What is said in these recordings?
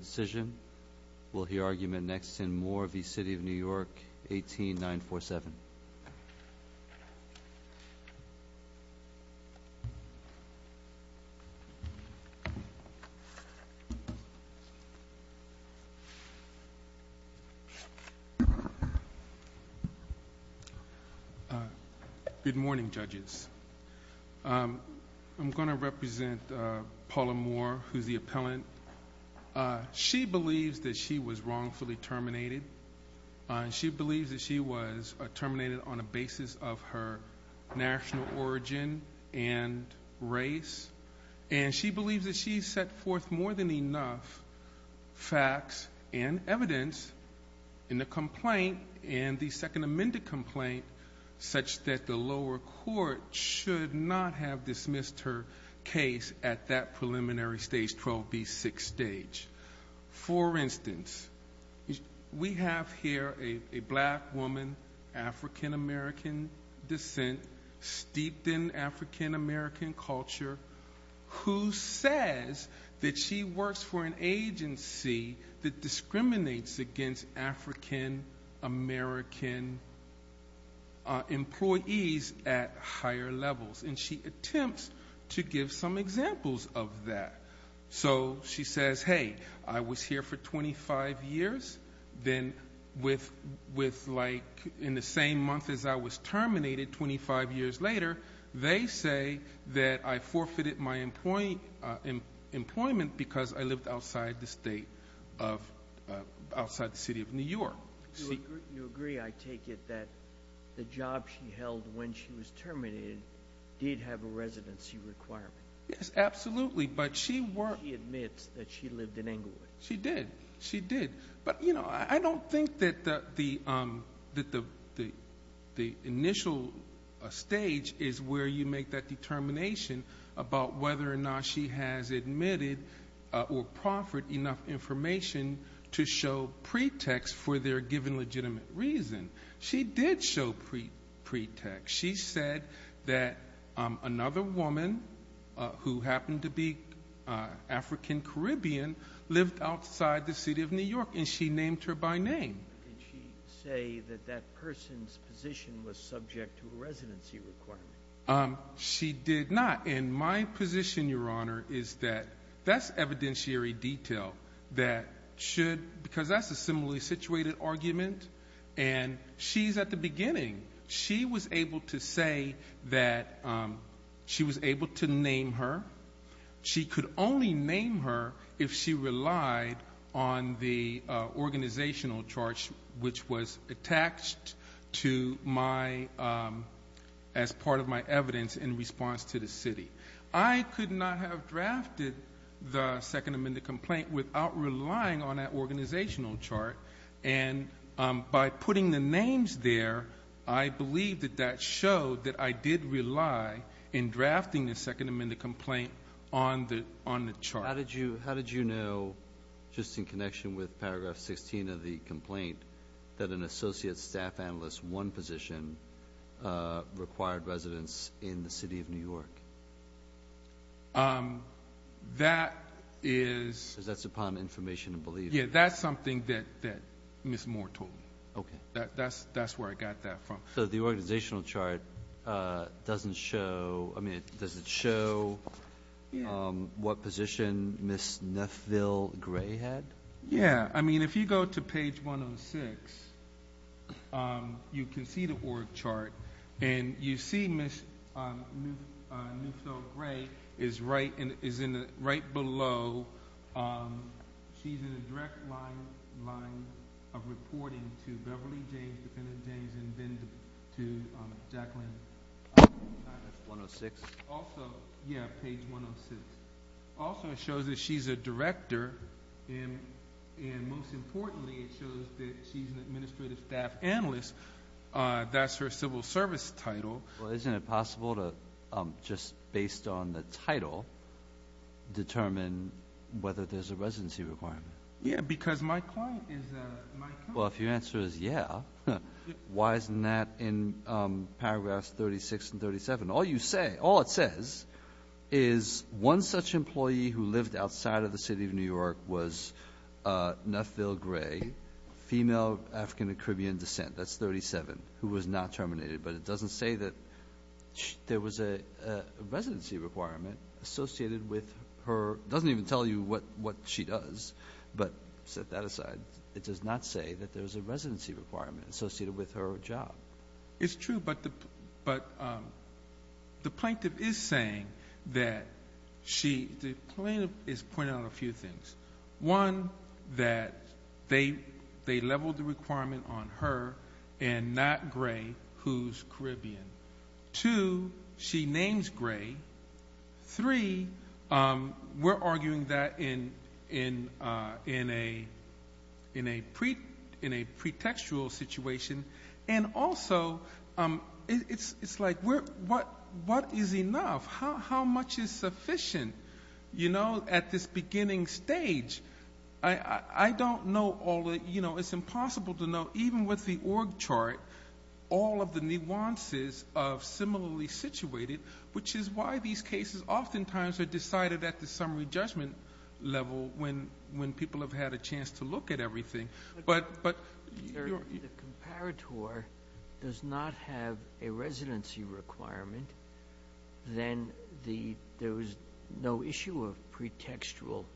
decision. Will hear argument next in Moore v. City of New York 18947. Good morning, judges. I'm going to represent Paula Moore, who's the appellant. She believes that she was wrongfully terminated. She believes that she was terminated on a basis of her national origin and race. And she believes that she set forth more than enough facts and evidence in the complaint and the second amended complaint such that the lower court should not have dismissed her case at that preliminary stage, 12B6 stage. For instance, we have here a black woman, African-American descent, steeped in African-American culture, who says that she works for an agency that discriminates against African-American employees at higher levels. And she attempts to give some examples of that. So she says, hey, I was here for 25 years. Then in the same month as I was terminated, 25 years later, they say that I forfeited my employment because I lived outside the city of New York. You agree, I take it, that the job she held when she was terminated did have a residency requirement. Yes, absolutely. But she admits that she lived in Englewood. She did. She did. But, you know, I don't think that the initial stage is where you make that determination about whether or not she has admitted or proffered enough information to show pretext for their given legitimate reason. She did show pretext. She said that another woman, who happened to be African-Caribbean, lived outside the city of New York and she named her by name. Did she say that person's position was subject to a residency requirement? She did not. And my position, Your Honor, is that that's evidentiary detail that should, because that's a similarly situated argument, and she's at the beginning. She was able to say that she was able to name her. She could only name her if she relied on the organizational chart, which was attached to my, as part of my evidence in response to the city. I could not have drafted the second amendment complaint without relying on that organizational chart. And by putting the names there, I believe that that showed that I did rely in drafting the second amendment complaint on the chart. How did you know, just in connection with paragraph 16 of the complaint, that an associate staff analyst's one position required residence in the city of New York? That is... Because that's upon information and belief. Yeah, that's something that Ms. Moore told me. Okay. That's where I got that from. So the organizational chart doesn't show, I mean, does it show what position Ms. Neffville-Gray had? Yeah. I mean, if you go to page 106, you can see the org chart, and you see Ms. Neffville-Gray is right below. She's in a direct line of reporting to Beverly James, defendant James, and then to Jacqueline. 106? Also, yeah, page 106. Also, it shows that she's a director, and most importantly, it shows that she's an administrative staff analyst. That's her civil service title. Well, isn't it possible to, just because my client is a... Well, if your answer is yeah, why isn't that in paragraphs 36 and 37? All you say, all it says is one such employee who lived outside of the city of New York was Neffville-Gray, female, African and Caribbean descent. That's 37, who was not terminated. But it doesn't say that there was a residency requirement associated with her... It doesn't tell you what she does, but set that aside. It does not say that there was a residency requirement associated with her job. It's true, but the plaintiff is saying that she... The plaintiff is pointing out a few things. One, that they leveled the requirement on her and not Gray, who's Caribbean. Two, she names Gray. Three, we're arguing that in a pre-textual situation. And also, it's like, what is enough? How much is sufficient? At this beginning stage, I don't know all the... It's impossible to know, even with the org chart, all of the nuances of similarly situated, which is why these cases oftentimes are decided at the summary judgment level when people have had a chance to look at everything. But... The comparator does not have a residency requirement, then there was no issue of pre-textual...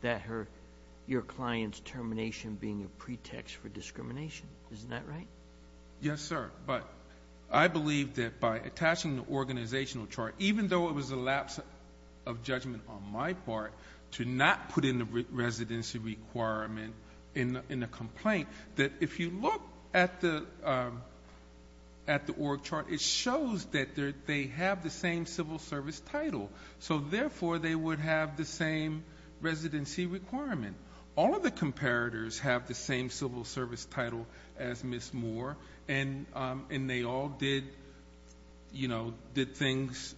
That her... Your client's termination being a pretext for discrimination. Isn't that right? Yes, sir. But I believe that by attaching the organizational chart, even though it was a lapse of judgment on my part to not put in the residency requirement in the complaint, that if you look at the org chart, it shows that they have the same civil service title. So therefore, they would have the same residency requirement. All of the comparators have the same civil service title as Ms. Moore, and they all did you know, did things...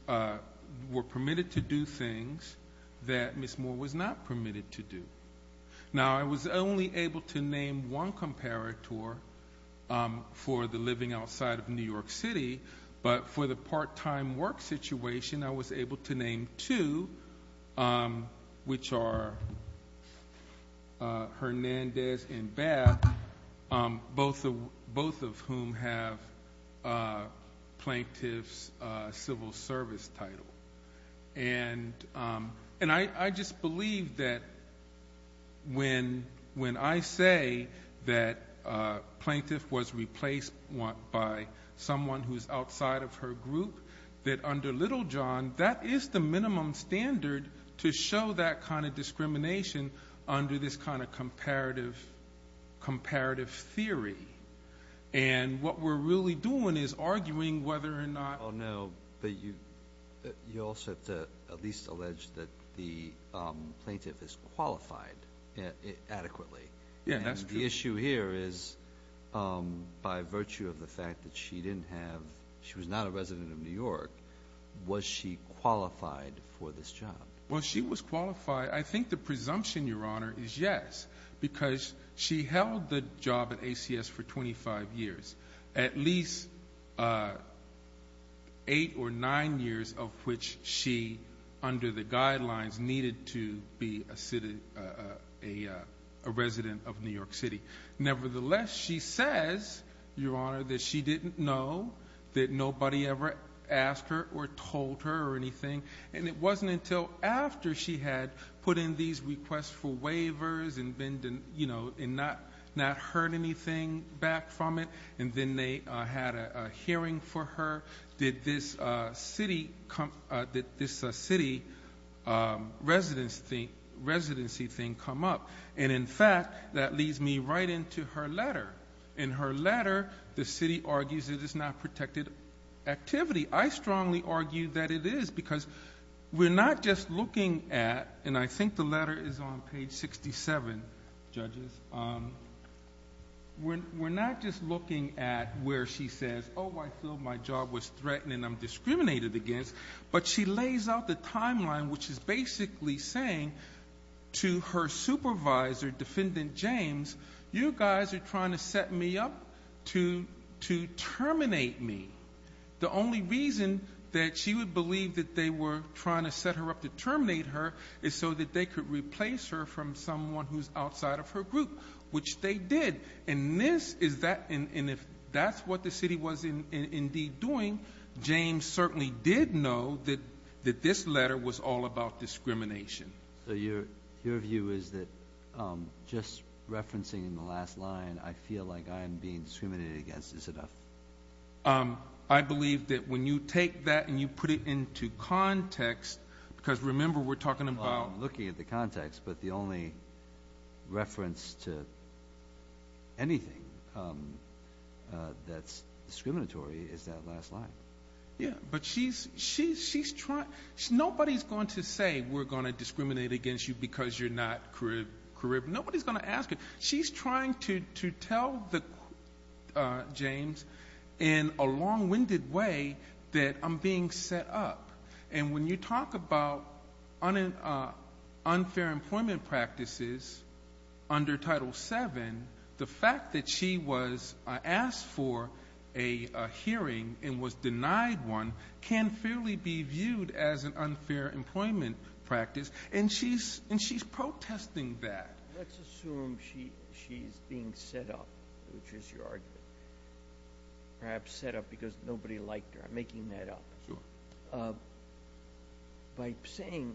Were permitted to do things that Ms. Moore was not permitted to do. Now, I was only able to name one comparator for the living outside of New York City, but for the part-time work situation, I was able to name two, which are Hernandez and Bath, both of whom have plaintiff's civil service title. And I just believe that when I say that a plaintiff was replaced by someone who's outside of her group, that under Littlejohn, that is the minimum standard to show that kind of discrimination under this kind of comparative theory. And what we're really doing is arguing whether or not... Oh no, but you also have to at least allege that the plaintiff is qualified adequately. Yeah, that's true. The issue here is by virtue of the fact that she didn't have... She was not a resident of New York, was she qualified for this job? Well, she was qualified. I think the presumption, Your Honor, is yes, because she held the job at ACS for 25 years, at least eight or nine years of which she, under the guidelines, needed to be a resident of New York City. Nevertheless, she says, Your Honor, that she didn't know, that nobody ever asked her or told her or anything, and it wasn't until after she had put in these requests for waivers and not heard anything back from it, and then they had a hearing for her, did this city residency thing come up. And in fact, that leads me right into her letter. In her letter, the city argues that it's not protected activity. I strongly argue that it is, because we're not just looking at, and I think the letter is on page 67, judges. We're not just looking at where she says, oh, I feel my job was threatened and I'm discriminated against, but she lays out the timeline, which is basically saying to her supervisor, Defendant James, you guys are trying to set me up to terminate me. The only reason that she would believe that they were trying to set her up to terminate her is so that they could replace her from someone who's outside of her group, which they did. And this is that, and if that's what the city was indeed doing, James certainly did know that this letter was all about discrimination. So your view is that just referencing in the last line, I feel like I'm being discriminated against is enough? I believe that when you take that and you put it into context, because remember, we're talking about... Well, I'm looking at the context, but the only reference to anything that's discriminatory is that last line. Yeah, but she's trying... Nobody's going to say we're going to discriminate against you because you're not Caribbean. Nobody's going to ask it. She's trying to tell James in a long-winded way that I'm being set up. And when you talk about unfair employment practices under Title VII, the fact that she was asked for a hearing and was denied one can fairly be viewed as an unfair employment practice, and she's protesting that. Let's assume she's being set up, which is your argument. Perhaps set up because nobody liked her. I'm making that up. Sure. By saying,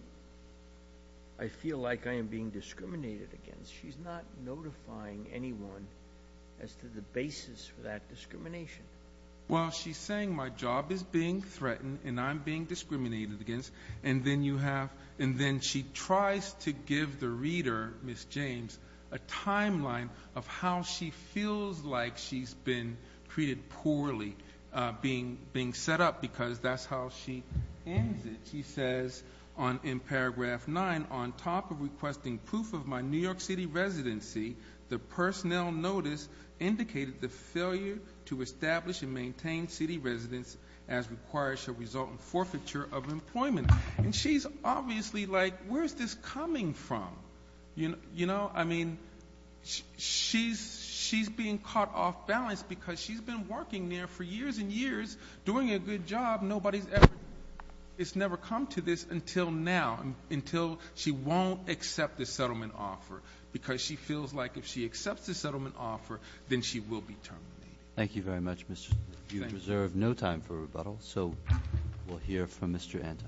I feel like I am being discriminated against, she's not notifying anyone as to the basis for that discrimination. Well, she's saying my job is being threatened and I'm being discriminated against. And then she tries to give the reader, Ms. James, a timeline of how she feels like she's treated poorly, being set up, because that's how she ends it. She says in paragraph nine, on top of requesting proof of my New York City residency, the personnel notice indicated the failure to establish and maintain city residence as required shall result in forfeiture of employment. And she's obviously like, where's this coming from? I mean, she's being caught off balance because she's been working there for years and years, doing a good job. Nobody's ever, it's never come to this until now, until she won't accept the settlement offer, because she feels like if she accepts the settlement offer, then she will be terminated. Thank you very much, Mr. You reserve no time for rebuttal. So we'll hear from Mr. Anton.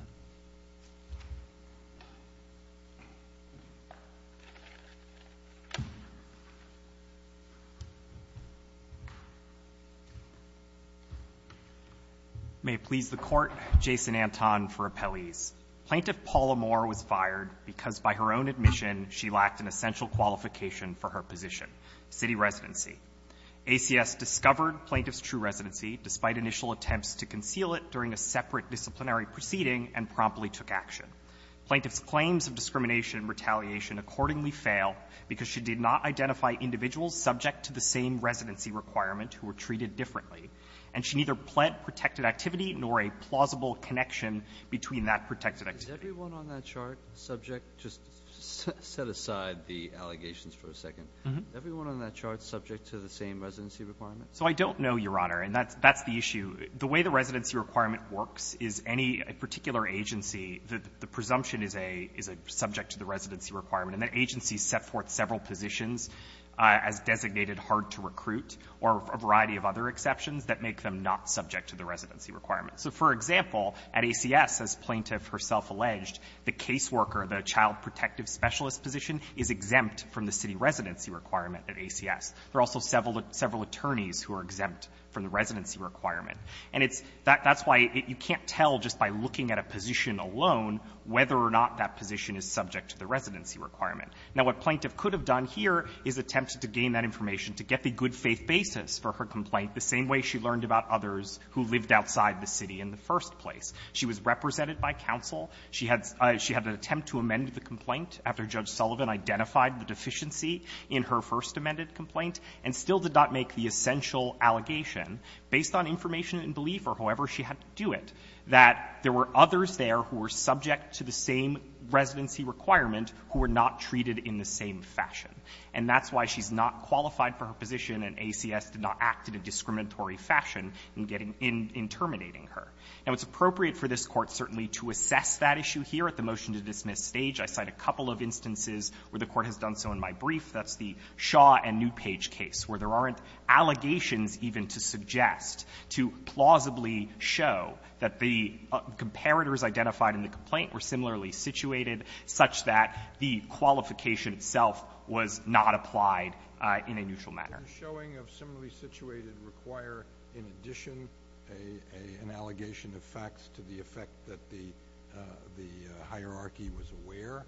May it please the Court, Jason Anton for appellees. Plaintiff Paula Moore was fired because by her own admission she lacked an essential qualification for her position, city residency. ACS discovered plaintiff's true residency despite initial attempts to conceal it during a separate disciplinary proceeding and promptly took action. Plaintiff's claims of discrimination and retaliation accordingly fail because she did not identify individuals subject to the same residency requirement who were treated differently, and she neither pled protected activity nor a plausible connection between that protected activity. Breyer. Is everyone on that chart subject? Just set aside the allegations for a second. Mm-hmm. Is everyone on that chart subject to the same residency requirement? So I don't know, Your Honor, and that's the issue. The way the residency requirement works is any particular agency, the presumption is a subject to the residency requirement, and that agency sets forth several positions as designated hard-to-recruit or a variety of other exceptions that make them not subject to the residency requirement. So, for example, at ACS, as Plaintiff herself alleged, the caseworker, the child protective specialist position, is exempt from the city residency requirement at ACS. There are also several attorneys who are exempt from the residency requirement. And it's that's why you can't tell just by looking at a position alone whether or not that position is subject to the residency requirement. Now, what Plaintiff could have done here is attempted to gain that information to get the good-faith basis for her complaint the same way she learned about others who lived outside the city in the first place. She was represented by counsel. She had an attempt to amend the complaint after Judge Sullivan identified the deficiency in her first amended complaint, and still did not make the essential allegation, based on information and belief or however she had to do it, that there were others there who were subject to the same residency requirement who were not treated in the same fashion. And that's why she's not qualified for her position, and ACS did not act in a discriminatory fashion in getting in – in terminating her. Now, it's appropriate for this Court certainly to assess that issue here at the motion-to-dismiss stage. I cite a couple of instances where the Court has done so in my brief. That's the Shaw and Newpage case, where there aren't allegations even to suggest, to plausibly show that the comparators identified in the complaint were similarly situated, such that the qualification itself was not applied in a neutral manner. The showing of similarly situated require, in addition, an allegation of facts to the effect that the – the hierarchy was aware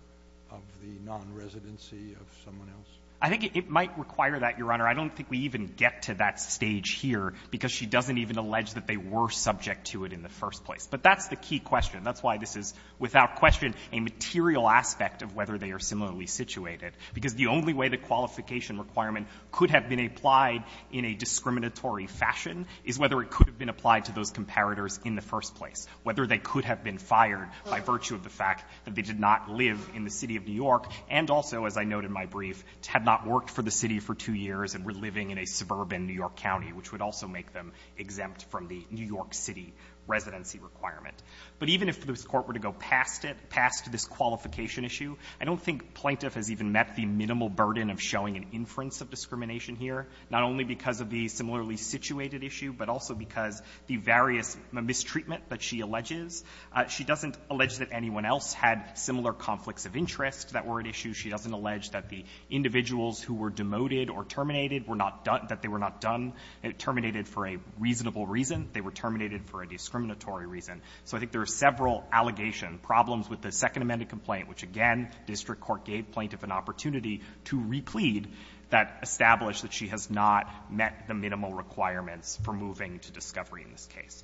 of the nonresidency of someone else? I think it might require that, Your Honor. I don't think we even get to that stage here, because she doesn't even allege that they were subject to it in the first place. But that's the key question. That's why this is, without question, a material aspect of whether they are similarly situated, because the only way the qualification requirement could have been applied in a discriminatory fashion is whether it could have been applied to those comparators in the first place, whether they could have been fired by virtue of the fact that they did not live in the City of New York and also, as I note in my brief, had not worked for the City for two years and were living in a suburban New York County, which would also make them exempt from the New York City residency requirement. But even if this Court were to go past it, past this qualification issue, I don't think Plaintiff has even met the minimal burden of showing an inference of discrimination here, not only because of the similarly situated issue, but also because the various mistreatment that she alleges. She doesn't allege that anyone else had similar conflicts of interest that were at issue. She doesn't allege that the individuals who were demoted or terminated were not done – that they were not done – terminated for a reasonable reason, they were terminated for a discriminatory reason. So I think there are several allegation problems with the Second Amended Complaint, which again, district court gave Plaintiff an opportunity to replead that established that she has not met the minimal requirements for moving to discovery in this case.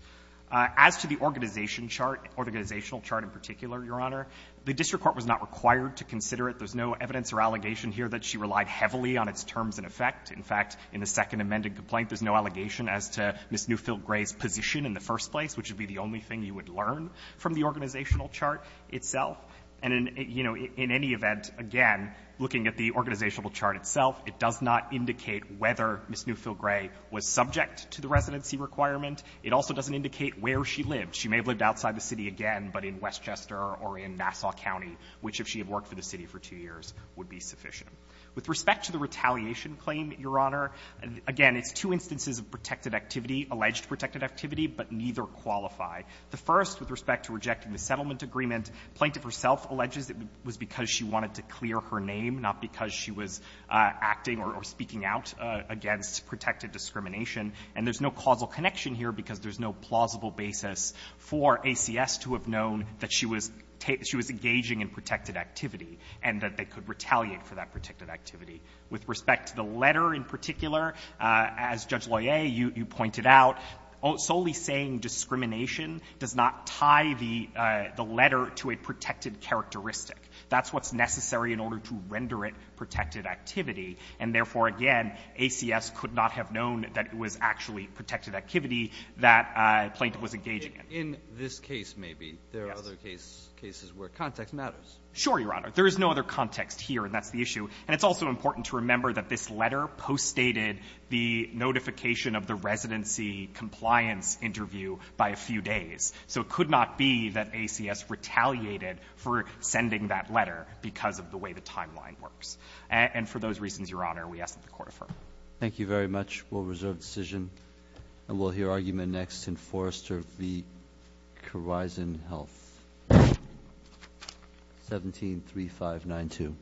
As to the organization chart, organizational chart in particular, Your Honor, the district court was not required to consider it. There's no evidence or allegation here that she relied heavily on its terms and effect. In fact, in the Second Amended Complaint, there's no allegation as to Ms. Newfield Gray's position in the first place, which would be the only thing you would learn from the organizational chart itself. And in, you know, in any event, again, looking at the organizational chart itself, it does not indicate whether Ms. Newfield Gray was subject to the residency requirement. It also doesn't indicate where she lived. She may have lived outside the city again, but in Westchester or in Nassau County, which, if she had worked for the city for two years, would be sufficient. With respect to the retaliation claim, Your Honor, again, it's two instances of protected activity, alleged protected activity, but neither qualify. The first, with respect to rejecting the settlement agreement, Plaintiff herself alleges it was because she wanted to clear her name, not because she was acting or speaking out against protected discrimination. And there's no causal connection here because there's no plausible basis for ACS to have known that she was engaging in protected activity and that they could retaliate for that protected activity. With respect to the letter in particular, as Judge Loyer, you pointed out, solely saying discrimination does not tie the letter to a protected characteristic. That's what's necessary in order to render it protected activity. And therefore, again, ACS could not have known that it was actually protected activity that Plaintiff was engaging in. Breyer. In this case, maybe, there are other cases where context matters. Sure, Your Honor. There is no other context here, and that's the issue. And it's also important to remember that this letter poststated the notification of the residency compliance interview by a few days. So it could not be that ACS retaliated for sending that letter because of the way the timeline works. And for those reasons, Your Honor, we ask that the Court affirm. Thank you very much. We'll reserve the decision. And we'll hear argument next in Forrester v. Corizon Health. 173592.